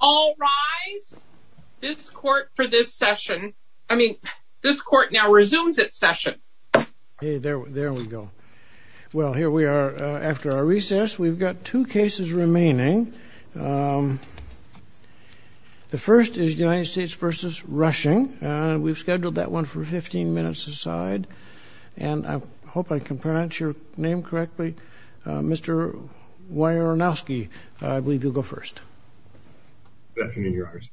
All rise. This court for this session, I mean this court now resumes its session. Okay, there we go. Well, here we are after our recess. We've got two cases remaining. The first is United States v. Rushing. We've scheduled that one for 15 minutes aside, and I hope I can pronounce your name correctly. Mr. Wojnarowski, I believe you'll go first. Good afternoon, Your Honors.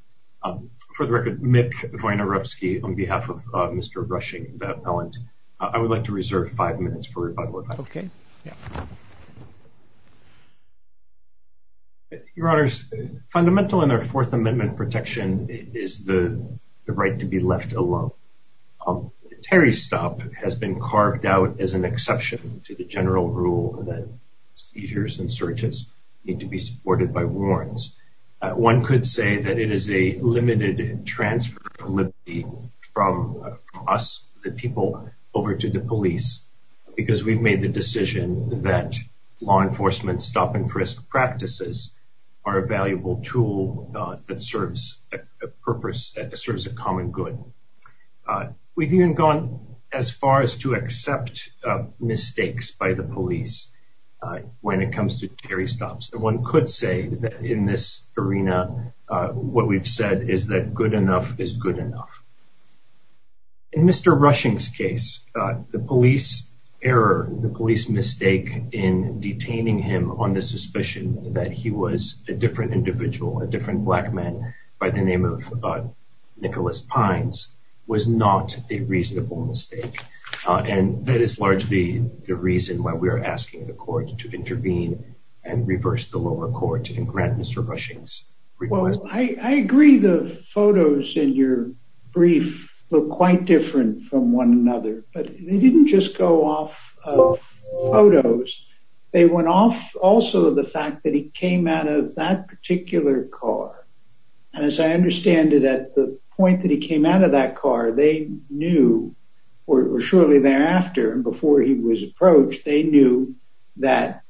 For the record, Mick Wojnarowski on behalf of Mr. Rushing, the appellant. I would like to reserve five minutes for rebuttal. Okay. Your Honors, fundamental in our Fourth Amendment protection is the right to be left alone. Terry's stop has been carved out as an essential rule that seizures and searches need to be supported by warrants. One could say that it is a limited transfer of liberty from us, the people, over to the police because we've made the decision that law enforcement stop-and-frisk practices are a valuable tool that serves a purpose, that serves a common good. We've even gone as far as to accept mistakes by the police when it comes to Terry stops. One could say that in this arena, what we've said is that good enough is good enough. In Mr. Rushing's case, the police error, the police mistake in detaining him on the suspicion that he was a different individual, a different individual, is largely the reason why we are asking the court to intervene and reverse the lower court and grant Mr. Rushing's request. Well, I agree the photos in your brief look quite different from one another, but they didn't just go off of photos. They went off also of the fact that he came out of that particular car. As I understand it, at the time, before he was approached, they knew that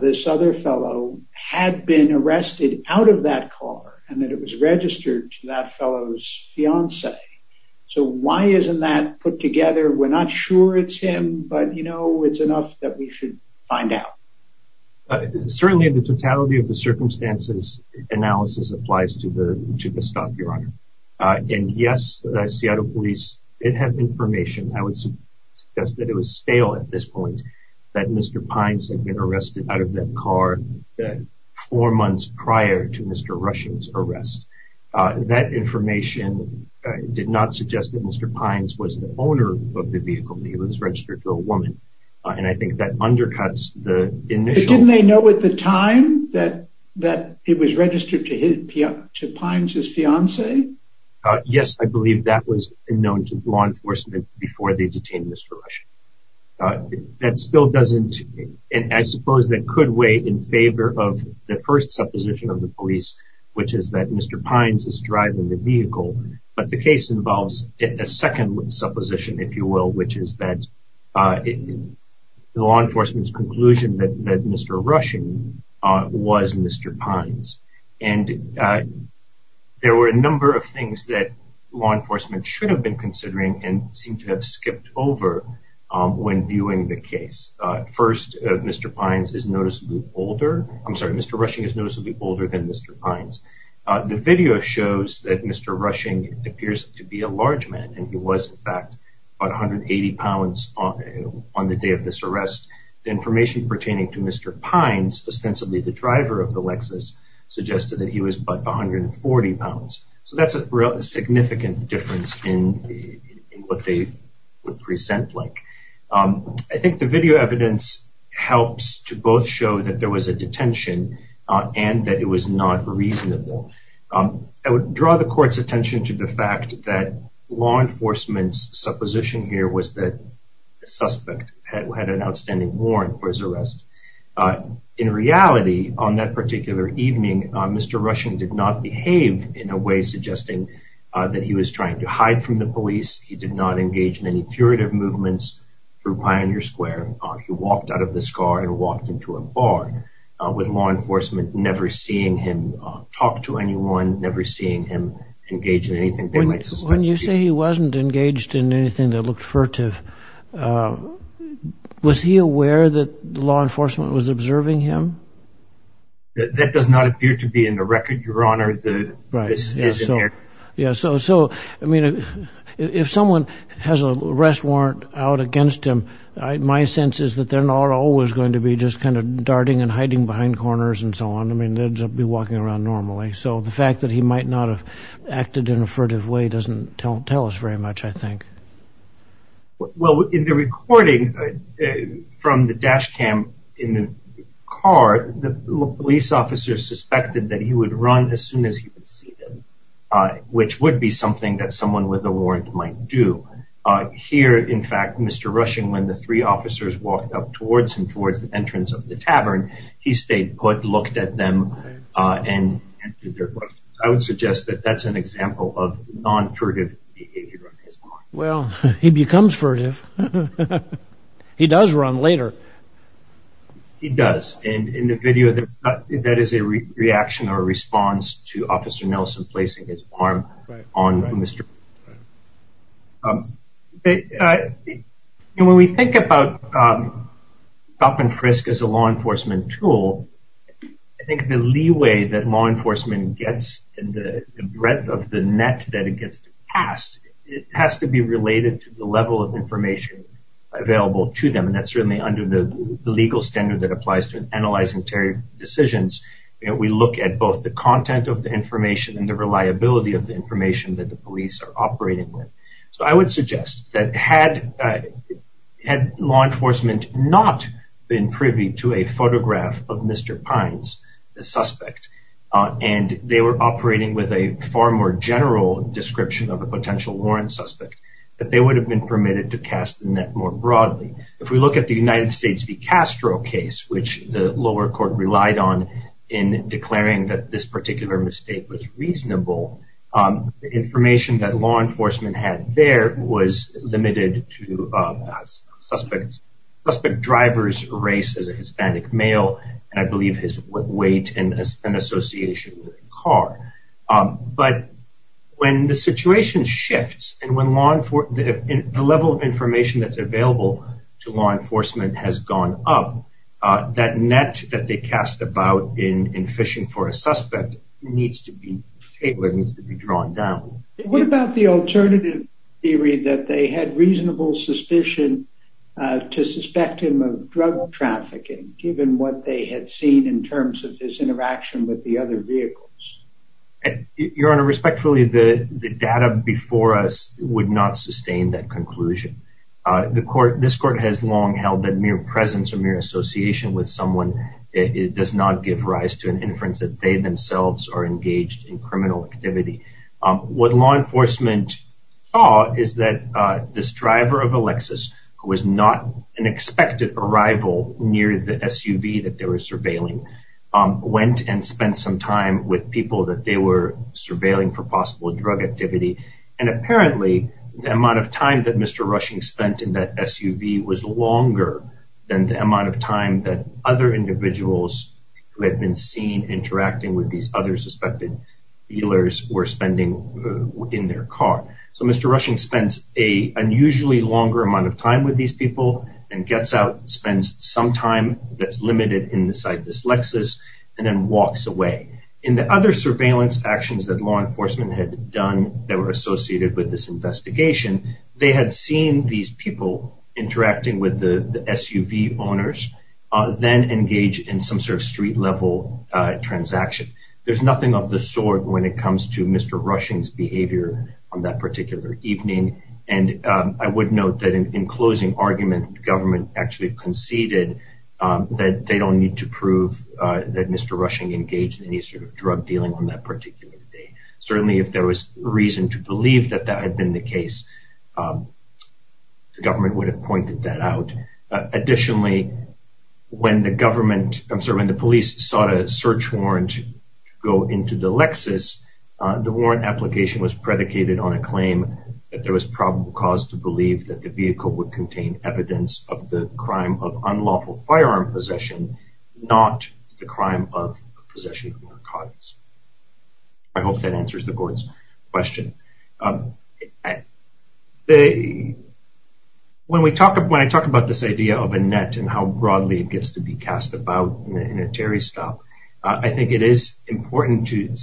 this other fellow had been arrested out of that car and that it was registered to that fellow's fiancée. So why isn't that put together? We're not sure it's him, but you know, it's enough that we should find out. Certainly, the totality of the circumstances analysis applies to the stop, Your Honor. And yes, the Seattle Police did have information. I would suggest that it was stale at this point that Mr. Pines had been arrested out of that car four months prior to Mr. Rushing's arrest. That information did not suggest that Mr. Pines was the owner of the vehicle, that he was registered to a woman. And I think that undercuts the initial... Yes, I believe that was known to law enforcement before they detained Mr. Rushing. That still doesn't... I suppose that could weigh in favor of the first supposition of the police, which is that Mr. Pines is driving the vehicle. But the case involves a second supposition, if you will, which is that the law enforcement's conclusion that Mr. Rushing was Mr. Pines. And there were a number of things that law enforcement should have been considering and seem to have skipped over when viewing the case. First, Mr. Pines is noticeably older. I'm sorry, Mr. Rushing is noticeably older than Mr. Pines. The video shows that Mr. Rushing appears to be a large man, and he was in fact about 180 pounds on the day of this arrest. The information pertaining to Mr. Pines, ostensibly the driver of the Lexus, suggested that he was about 140 pounds. So that's a significant difference in what they would present like. I think the video evidence helps to both show that there was a detention and that it was not reasonable. I would draw the court's attention to the fact that law enforcement's supposition here was that the suspect had an outstanding warrant for his arrest. In reality, on that particular evening, Mr. Rushing did not behave in a way suggesting that he was trying to hide from the police. He did not engage in any furtive movements through Pioneer Square. He walked out of this car and walked into a bar with law enforcement never seeing him talk to anyone, never seeing him engage in anything they might suspect. When you say he wasn't engaged in anything that looked furtive, was he aware that law enforcement was observing him? That does not appear to be in the record, Your Honor. So, I mean, if someone has an arrest warrant out against him, my sense is that they're not always going to be just kind of darting and hiding behind corners and so on. I mean, they'd be walking around normally. So the fact that he might not have acted in a furtive way doesn't tell us very much, I think. Well, in the recording from the dash cam in the car, the police officer suspected that he would run as soon as he would see them, which would be something that someone with a warrant might do. Here, in fact, Mr. Rushing, when the three officers walked up towards him towards the entrance of the tavern, he stayed put, looked at them, and answered their questions. I would suggest that that's an example of non-furtive behavior. Well, he becomes furtive. He does run later. He does. And in the video, that is a reaction or a response to Officer Nelson placing his arm on Mr. Rushing. When we think about stop-and-frisk as a law enforcement tool, I think the leeway that law enforcement gets and the breadth of the net that it gets passed, it has to be related to the level of information available to them. And that's certainly under the legal standard that applies to analyzing decisions. We look at both the content of the information and the reliability of the information that the police are operating with. So I would suggest that had law enforcement not been privy to a photograph of Mr. Pines, the suspect, and they were operating with a far more general description of a potential warrant suspect, that they would have been permitted to cast the net more broadly. If we look at the United States v. Castro case, which the lower mistake was reasonable, the information that law enforcement had there was limited to a suspect driver's race as a Hispanic male, and I believe his weight and association with a car. But when the situation shifts and when the level of information that's available to law enforcement has gone up, that net that they cast about in fishing for a suspect needs to be drawn down. What about the alternative theory that they had reasonable suspicion to suspect him of drug trafficking, given what they had seen in terms of his interaction with the other vehicles? Your Honor, respectfully, the data before us would not sustain that conclusion. The court, this court has long held that mere presence or mere association with someone does not give rise to an inference that they themselves are engaged in criminal activity. What law enforcement saw is that this driver of a Lexus, who was not an expected arrival near the SUV that they were surveilling, went and spent some time with people that they were surveilling for possible drug activity. And apparently, the amount of time that Mr. Rushing spent in that SUV was longer than the amount of time that other individuals who had been seen interacting with these other suspected dealers were spending in their car. So Mr. Rushing spends an unusually longer amount of time with these people and gets out, spends some time that's limited inside this way. In the other surveillance actions that law enforcement had done that were associated with this investigation, they had seen these people interacting with the SUV owners then engage in some sort of street level transaction. There's nothing of the sort when it comes to Mr. Rushing's behavior on that particular evening. And I would note that in closing argument, the government actually conceded that they don't need to prove that Mr. Rushing engaged in any sort of drug dealing on that particular day. Certainly, if there was reason to believe that that had been the case, the government would have pointed that out. Additionally, when the police sought a search warrant to go into the Lexus, the warrant application was predicated on a claim that was probable cause to believe that the vehicle would contain evidence of the crime of unlawful firearm possession, not the crime of possession of narcotics. I hope that answers the board's question. When I talk about this idea of a net and how broadly it gets to be cast about in a Terry stop, I think it is important to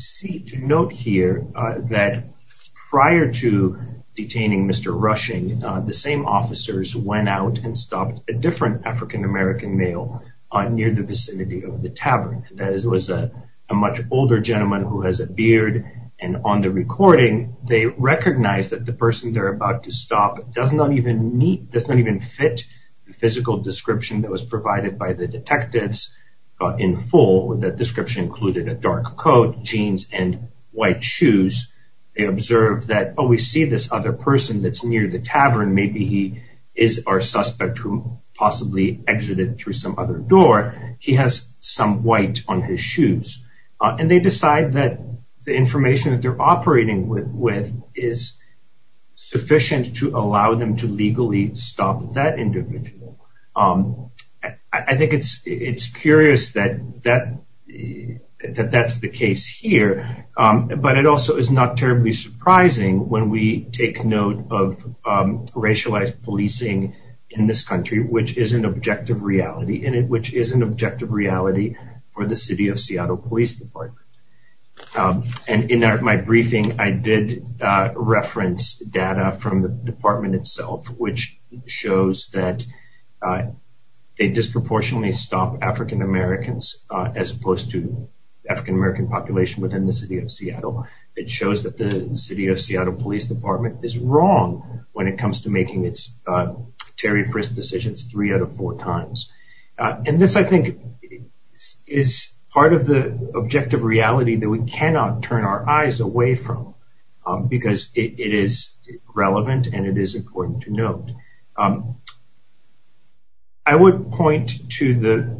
note here that prior to detaining Mr. Rushing, the same officers went out and stopped a different African American male near the vicinity of the tavern. That was a much older gentleman who has a beard. And on the recording, they recognize that the person they're about to stop does not even fit the physical description that was provided by the detectives in full. That description included a dark coat, jeans, and white shoes. They observe that, oh, we see this other person that's near the tavern. Maybe he is our suspect who possibly exited through some other door. He has some white on his shoes. And they decide that the information that they're operating with is sufficient to allow them to legally stop that individual. I think it's curious that that's the case here. But it also is not terribly surprising when we take note of racialized policing in this country, which is an objective reality for the City of Seattle Police Department. And in my briefing, I did reference data from the department itself, which shows that they disproportionately stop African Americans as opposed to African American population within the City of Seattle. It shows that the City of Seattle Police Department is wrong when it comes to making its Terry Frist decisions three out of four times. And this, I think, is part of the objective reality that we cannot turn our eyes away from, because it is relevant and it is important to note. I would point to the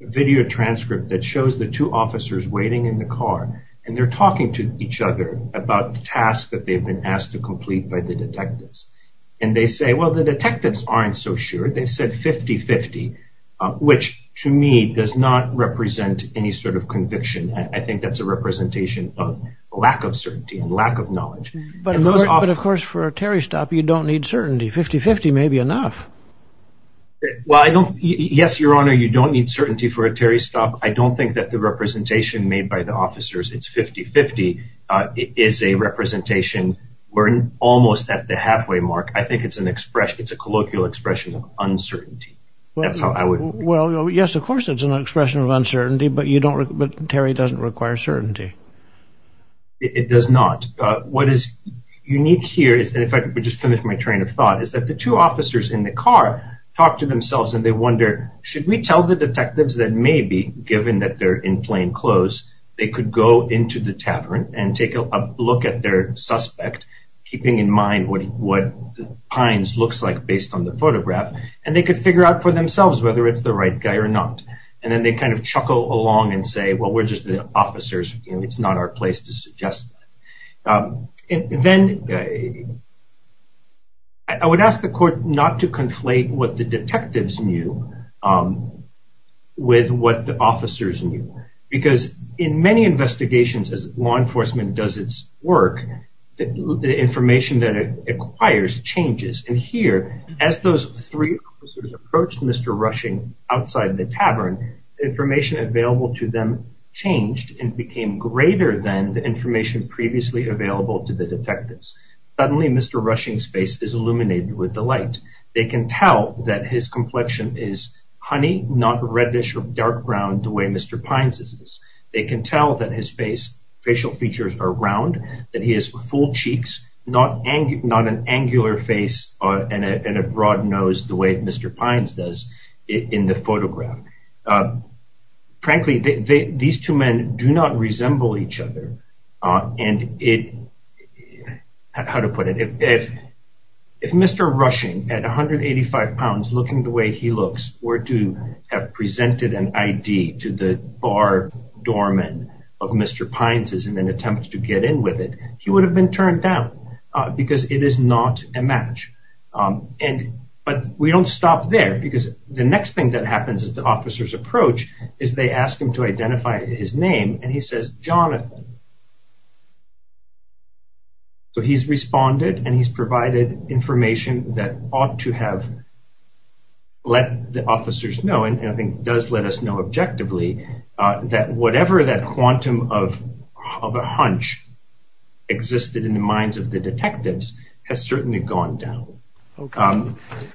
video transcript that shows the two officers waiting in the car. And they're talking to each other about the task that they've been asked to complete by the detectives. And they say, well, the detectives aren't so sure. They've said 50-50, which to me does not represent any sort of conviction. I think that's a representation of and lack of knowledge. But of course, for a Terry stop, you don't need certainty. 50-50 may be enough. Well, I don't. Yes, Your Honor, you don't need certainty for a Terry stop. I don't think that the representation made by the officers, it's 50-50, is a representation. We're almost at the halfway mark. I think it's an expression. It's a colloquial expression of uncertainty. That's how I would. Well, yes, of course, it's an expression of uncertainty. But you don't. But Terry doesn't require certainty. It does not. What is unique here is, and in fact, we just finished my train of thought, is that the two officers in the car talk to themselves. And they wonder, should we tell the detectives that maybe given that they're in plain clothes, they could go into the tavern and take a look at their suspect, keeping in mind what Pines looks like based on the photograph. And they could figure out for themselves whether it's the right guy or not. And then they kind of it's not our place to suggest that. And then I would ask the court not to conflate what the detectives knew with what the officers knew. Because in many investigations, as law enforcement does its work, the information that it acquires changes. And here, as those three officers approached Mr. Rushing outside the tavern, information available to them changed and became greater than the information previously available to the detectives. Suddenly, Mr. Rushing's face is illuminated with the light. They can tell that his complexion is honey, not reddish or dark brown, the way Mr. Pines is. They can tell that his facial features are round, that he has full cheeks, not an angular face and a broad nose, the way Mr. Pines does in the photograph. Frankly, these two men do not resemble each other. And it, how to put it, if Mr. Rushing at 185 pounds, looking the way he looks, were to have presented an ID to the bar doorman of Mr. Pines' in an attempt to get in with it, he would have been turned down, because it is not a match. But we don't stop there, because the next thing that happens as the officers approach is they ask him to identify his name, and he says, Jonathan. So he's responded, and he's provided information that ought to have let the officers know, and I think does let us know objectively, that whatever that quantum of a hunch existed in the minds of the detectives has certainly gone down. Okay.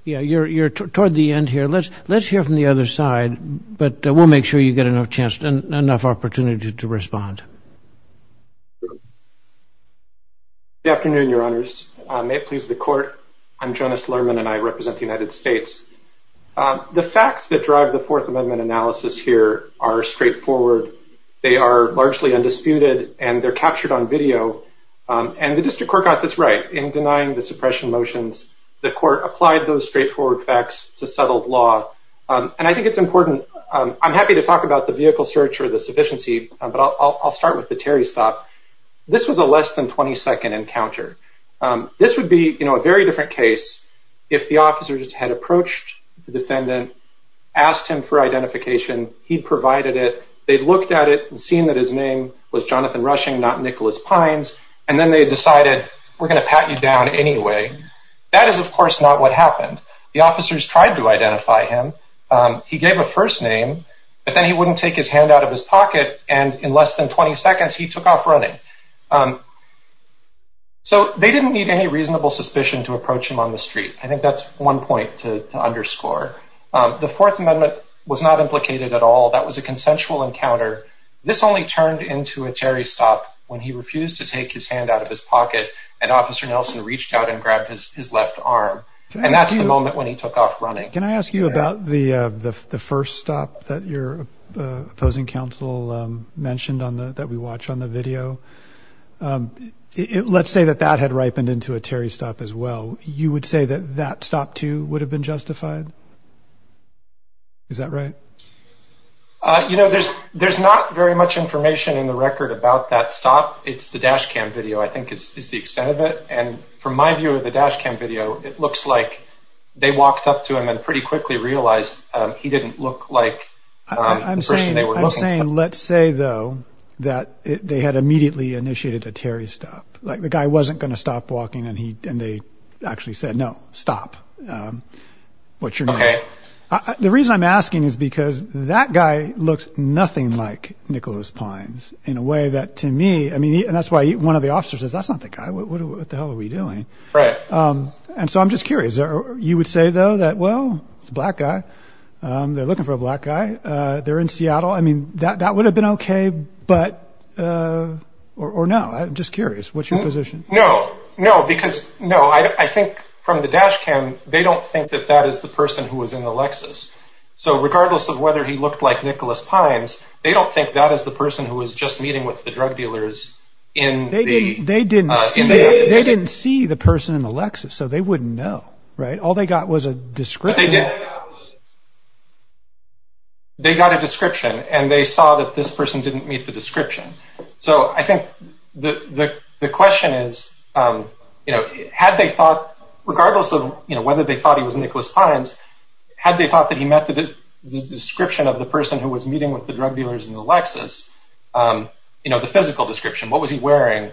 Yeah, you're toward the end here. Let's hear from the other side, but we'll make sure you get enough opportunity to respond. Good afternoon, Your Honors. May it please the Court. I'm Jonas Lerman, and I represent the United States. The facts that drive the Fourth Amendment analysis here are straightforward. They are largely undisputed, and they're captured on video. And the District Court got this right. In denying the suppression motions, the Court applied those straightforward facts to settled law. And I think it's important, I'm happy to talk about the vehicle search or the sufficiency, but I'll start with the Terry stop. This was a less than 20-second encounter. This would be, you know, a very different case if the officers had approached the defendant, asked him for identification, he'd provided it, they'd looked at it and seen that his name was Jonathan Rushing, not Nicholas Pines, and then they decided, we're going to pat you down anyway. That is, of course, not what happened. The officers tried to identify him. He gave a first name, but then he wouldn't take his hand out of his pocket, and in less than 20 seconds, he took off running. So they didn't need any reasonable suspicion to approach him on the street. I think that's one point to underscore. The Fourth Amendment was not implicated at all. That was a consensual encounter. This only turned into a Terry stop when he refused to take his hand out of his pocket, and Officer Nelson reached out and grabbed his left arm. And that's the moment when he took off running. Can I ask you about the first stop that your opposing counsel mentioned that we watch on the video? Let's say that that had ripened into a Terry stop as well. You would say that that stop too would have been justified? Is that right? You know, there's not very much information in the record about that stop. It's the dash cam video, I think, is the extent of it. And my view of the dash cam video, it looks like they walked up to him and pretty quickly realized he didn't look like the person they were looking for. I'm saying, let's say though, that they had immediately initiated a Terry stop. Like the guy wasn't going to stop walking, and they actually said, no, stop. What's your name? Okay. The reason I'm asking is because that guy looks nothing like Nicholas Pines in a way that to me, I mean, and that's why one of the officers says, that's not what the hell are we doing? Right. And so I'm just curious, or you would say, though, that, well, it's a black guy. They're looking for a black guy. They're in Seattle. I mean, that would have been okay. But or no, I'm just curious, what's your position? No, no, because no, I think from the dash cam, they don't think that that is the person who was in the Lexus. So regardless of whether he looked like Nicholas Pines, they don't think that is the person who was just meeting with the drug dealers in the, they didn't see the person in the Lexus. So they wouldn't know, right? All they got was a description. They got a description, and they saw that this person didn't meet the description. So I think the question is, you know, had they thought, regardless of, you know, whether they thought he was Nicholas Pines, had they thought that he met the description of the description, what was he wearing?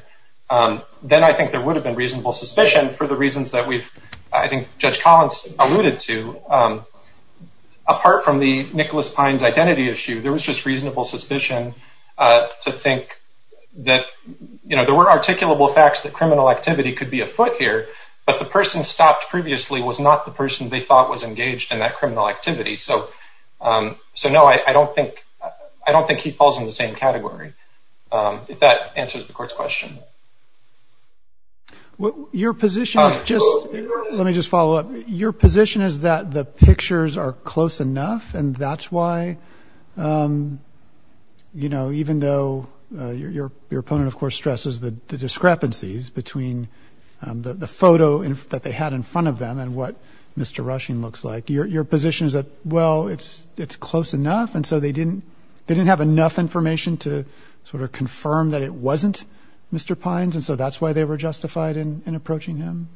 Then I think there would have been reasonable suspicion for the reasons that we've, I think Judge Collins alluded to. Apart from the Nicholas Pines identity issue, there was just reasonable suspicion to think that, you know, there were articulable facts that criminal activity could be afoot here, but the person stopped previously was not the person they thought was engaged in that criminal activity. So, so no, I don't think, I don't think he falls in the same category. If that answers the court's question. Well, your position is just, let me just follow up. Your position is that the pictures are close enough, and that's why, you know, even though your opponent, of course, stresses the discrepancies between the photo that they had in front of them and what Mr. Rushing looks like, your position is well, it's, it's close enough. And so they didn't, they didn't have enough information to sort of confirm that it wasn't Mr. Pines. And so that's why they were justified in approaching him.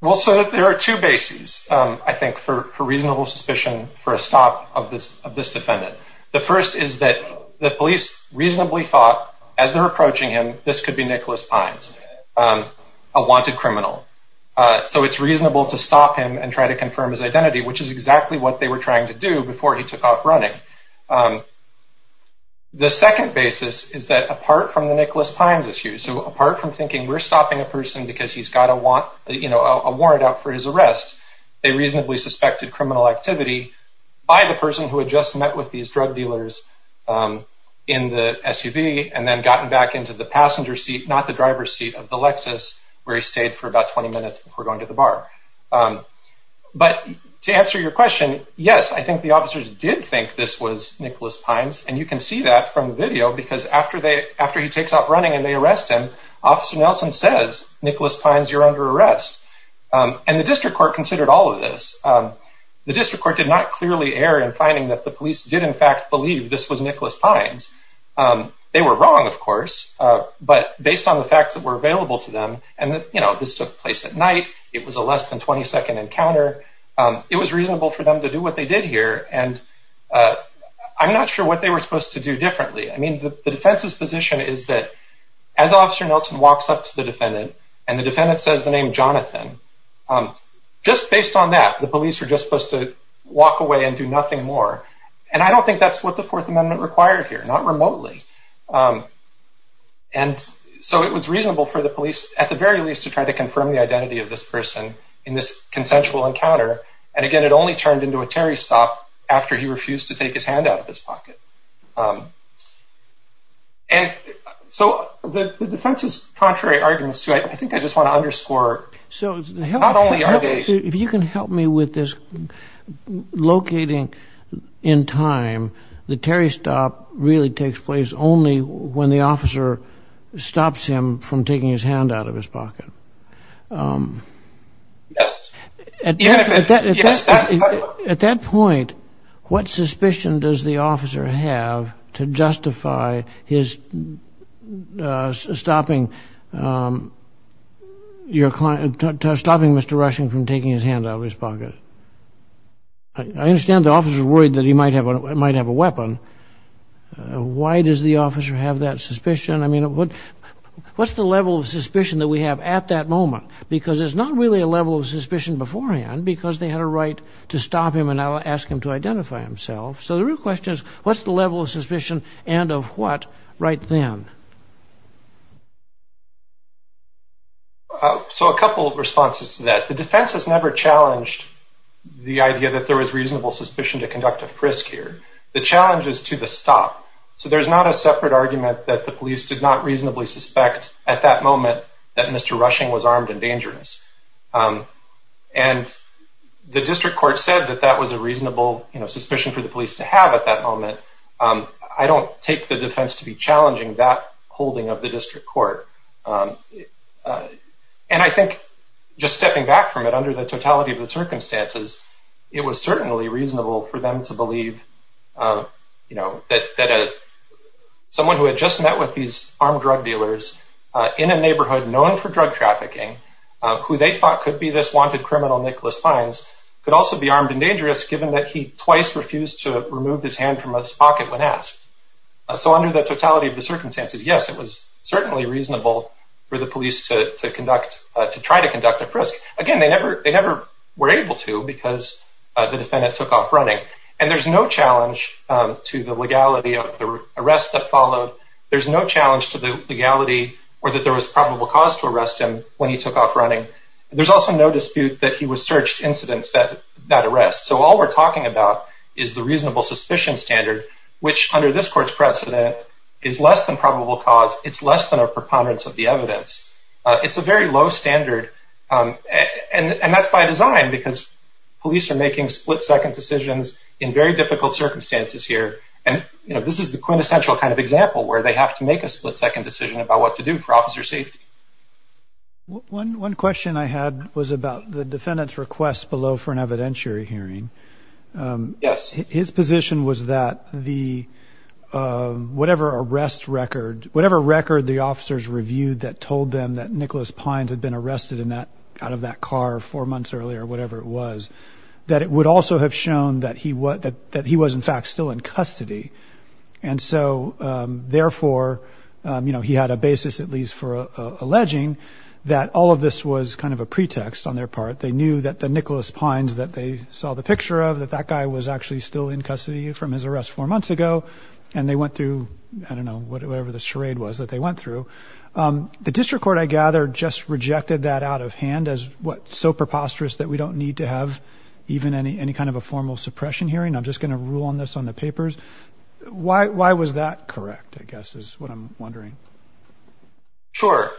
Well, so there are two bases, I think, for reasonable suspicion for a stop of this, of this defendant. The first is that the police reasonably thought as they're approaching him, this could be Nicholas Pines, a wanted criminal. So it's reasonable to stop him and try to confirm his identity, which is exactly what they were trying to do before he took off running. The second basis is that apart from the Nicholas Pines issue, so apart from thinking we're stopping a person because he's got a warrant out for his arrest, they reasonably suspected criminal activity by the person who had just met with these drug dealers in the SUV and then gotten back into the passenger seat, not the driver's seat of the Lexus, where he stayed for about 20 minutes before going to the bar. But to answer your question, yes, I think the officers did think this was Nicholas Pines. And you can see that from the video, because after they, after he takes off running and they arrest him, Officer Nelson says, Nicholas Pines, you're under arrest. And the district court considered all of this. The district court did not clearly err in finding that the police did in fact believe this was Nicholas Pines. They were wrong, of course, but based on the facts that were available to them, and this took place at night, it was a less than 20 second encounter. It was reasonable for them to do what they did here. And I'm not sure what they were supposed to do differently. I mean, the defense's position is that as Officer Nelson walks up to the defendant and the defendant says the name Jonathan, just based on that, the police are just supposed to walk away and do nothing more. And I don't think that's what the Fourth Amendment required here, not remotely. And so it was reasonable for the police, at the very least, to try to confirm the identity of this person in this consensual encounter. And again, it only turned into a Terry stop after he refused to take his hand out of his pocket. And so the defense's contrary arguments to it, I think I just want to underscore. So if you can help me with this, locating in time, the Terry stop really takes place only when the officer stops him from taking his hand out of his pocket. At that point, what suspicion does the officer have to justify his stopping your client, stopping Mr. Rushing from taking his hand out of his pocket? I understand the officer's worried that he might have a weapon. Why does the officer have that suspicion? I mean, what's the level of suspicion that we have at that moment? Because there's not really a level of suspicion beforehand, because they had a right to stop him and ask him to identify himself. So the real question is, what's the level of suspicion and of what right then? So a couple of responses to that. The defense has never challenged the idea that there was reasonable suspicion to conduct a frisk here. The challenge is to the stop. So there's not a separate argument that the police did not reasonably suspect at that moment that Mr. Rushing was armed and dangerous. And the district court said that that was a reasonable suspicion for the police to have at that moment. I don't take the defense to be challenging that holding of the district court. And I think just stepping back from it under the totality of the circumstances, it was certainly reasonable for them to believe that someone who had just met with these armed drug dealers in a neighborhood known for drug trafficking, who they thought could be this wanted criminal Nicholas Fines, could also be armed and dangerous given that he twice refused to remove his hand from his pocket when asked. So under the totality of the circumstances, yes, it was certainly reasonable for the police to conduct, to try to conduct a frisk. Again, they never were able to because the defendant took off running. And there's no challenge to the legality of the arrest that followed. There's no challenge to the legality or that there was probable cause to arrest him when he took off running. There's also no dispute that he was searched incidents that that arrest. So all we're talking about is the reasonable suspicion standard, which under this court's precedent is less than probable cause. It's less than a preponderance of the evidence. It's a very low standard. And that's by design because police are making split second decisions in very difficult circumstances here. And this is the quintessential kind of example where they have to make a split second decision about what to do for officer safety. One question I had was about the defendant's request below for an evidentiary hearing. Yes. His position was that the whatever arrest record, whatever record the officers reviewed that told them that Nicholas Pines had been arrested in that out of that car four months earlier, whatever it was, that it would also have shown that he was that that he was, in fact, still in custody. And so therefore, you know, he had a basis, at least for alleging that all of this was kind of a pretext on their part. They knew that the Nicholas Pines that they saw the picture of, that that guy was actually still in custody from his arrest four months ago. And they went through, I don't know, whatever the charade was that they went through. The district court, I gather, just rejected that out of hand as what so preposterous that we don't need to have even any any kind of a formal suppression hearing. I'm just going to rule on this on the papers. Why was that correct, I guess, is what I'm wondering. Sure.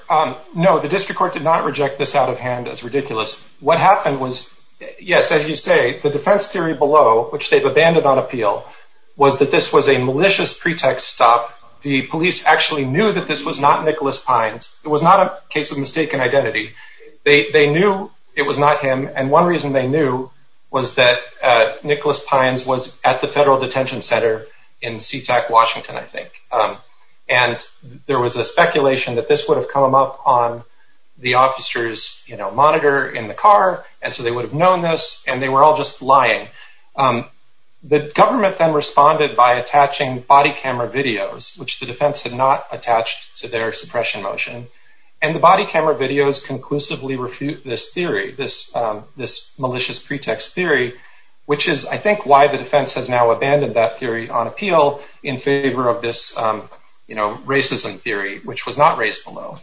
No, district court did not reject this out of hand as ridiculous. What happened was, yes, as you say, the defense theory below, which they've abandoned on appeal, was that this was a malicious pretext stop. The police actually knew that this was not Nicholas Pines. It was not a case of mistaken identity. They knew it was not him. And one reason they knew was that Nicholas Pines was at the federal detention center in SeaTac, Washington, I think. And there was a speculation that this would have come up on the officer's monitor in the car. And so they would have known this. And they were all just lying. The government then responded by attaching body camera videos, which the defense had not attached to their suppression motion. And the body camera videos conclusively refute this theory, this malicious pretext theory, which is, I think, why the defense has now abandoned that theory on appeal in favor of this racism theory, which was not raised below.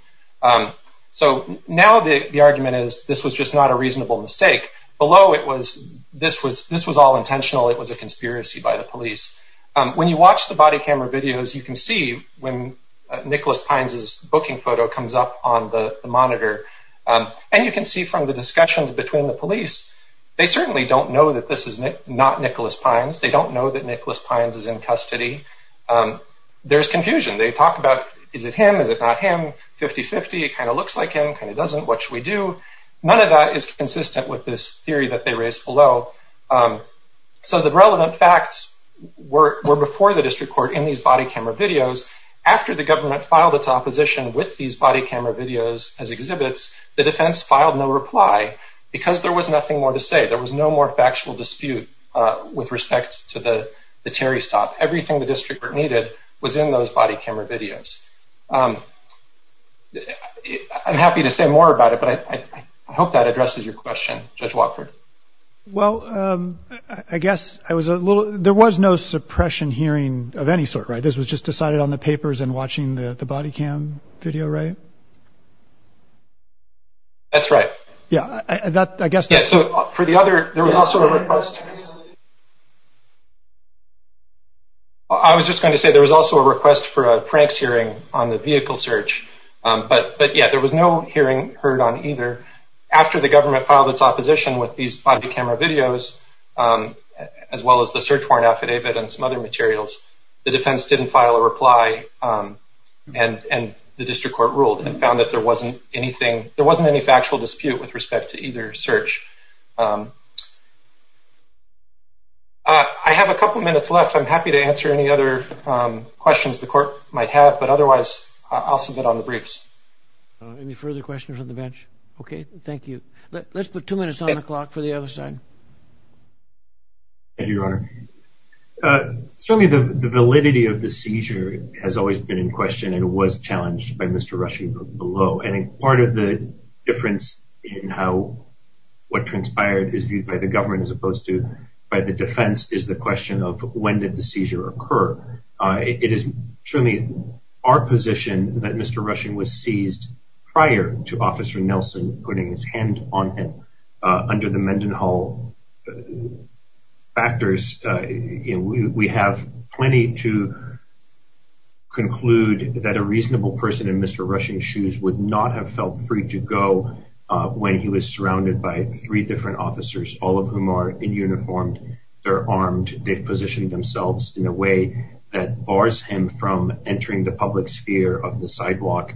So now the argument is, this was just not a reasonable mistake. Below, it was, this was all intentional. It was a conspiracy by the police. When you watch the body camera videos, you can see when Nicholas Pines' booking photo comes up on the monitor. And you can see from the discussions between the police, they certainly don't know that this is not Nicholas Pines. They don't know that Nicholas Pines is in custody. There's confusion. They talk about, is it him? Is it not him? 50-50, it kind of looks like him, kind of doesn't. What should we do? None of that is consistent with this theory that they raised below. So the relevant facts were before the district court in these body camera videos. After the government filed its opposition with these body camera videos as exhibits, the defense filed no reply because there was nothing more to say. There was no more factual dispute with respect to the Terry stop. Everything the I'm happy to say more about it, but I hope that addresses your question, Judge Watford. Well, I guess I was a little, there was no suppression hearing of any sort, right? This was just decided on the papers and watching the body cam video, right? That's right. Yeah, that I guess. Yeah. So for the other, there was also a request. I was just going to say, there was also a request for a pranks hearing on the vehicle search, but yeah, there was no hearing heard on either. After the government filed its opposition with these body camera videos, as well as the search warrant affidavit and some other materials, the defense didn't file a reply and the district court ruled and found that there wasn't anything, there wasn't any factual dispute with respect to either search. I have a couple of minutes left. I'm happy to answer any other questions the court might have, but otherwise I'll submit on the briefs. Any further questions on the bench? Okay, thank you. Let's put two minutes on the clock for the other side. Thank you, Your Honor. Certainly the validity of the seizure has always been in question and was challenged by Mr. Rushing below. I think part of the difference in how what transpired is viewed by the government as opposed to by the defense is the question of when did the seizure occur? It is truly our position that Mr. Rushing was seized prior to Officer Nelson putting his on him. Under the Mendenhall factors, we have plenty to conclude that a reasonable person in Mr. Rushing's shoes would not have felt free to go when he was surrounded by three different officers, all of whom are in uniform, they're armed, they've positioned themselves in a way that bars him from entering the public sphere of the sidewalk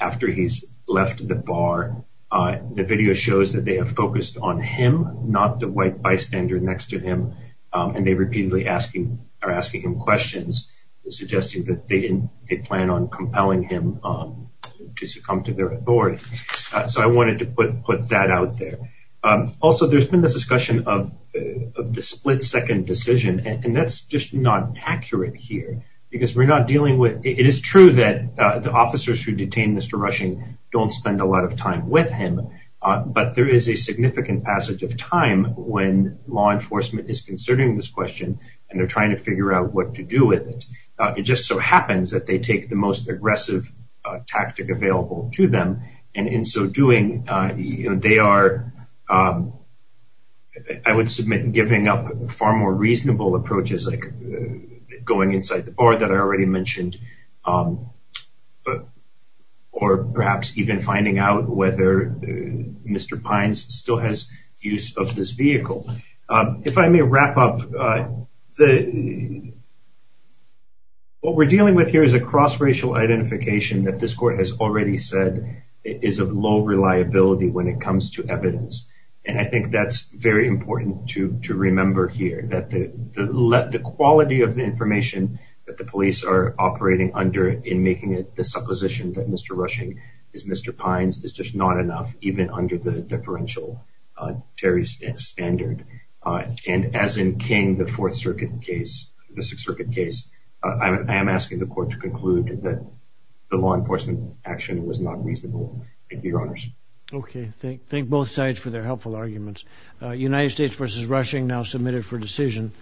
after he's left the bar. The video shows that they have focused on him, not the white bystander next to him, and they repeatedly are asking him questions, suggesting that they plan on compelling him to succumb to their authority. So I wanted to put that out there. Also, there's been this discussion of the split-second decision, and that's just not accurate here because we're not him, but there is a significant passage of time when law enforcement is considering this question, and they're trying to figure out what to do with it. It just so happens that they take the most aggressive tactic available to them, and in so doing, they are, I would submit, giving up far more reasonable approaches like going inside the bar that I already mentioned, or perhaps even finding out whether Mr. Pines still has use of this vehicle. If I may wrap up, what we're dealing with here is a cross-racial identification that this court has already said is of low reliability when it comes to evidence, and I think that's very important to remember here, that the quality of the information that the police are operating under in making it the is just not enough, even under the differential Terry standard, and as in King, the Fourth Circuit case, the Sixth Circuit case, I am asking the court to conclude that the law enforcement action was not reasonable. Thank you, Your Honors. Okay, thank both sides for their helpful arguments. United States v. Rushing, now submitted for decision.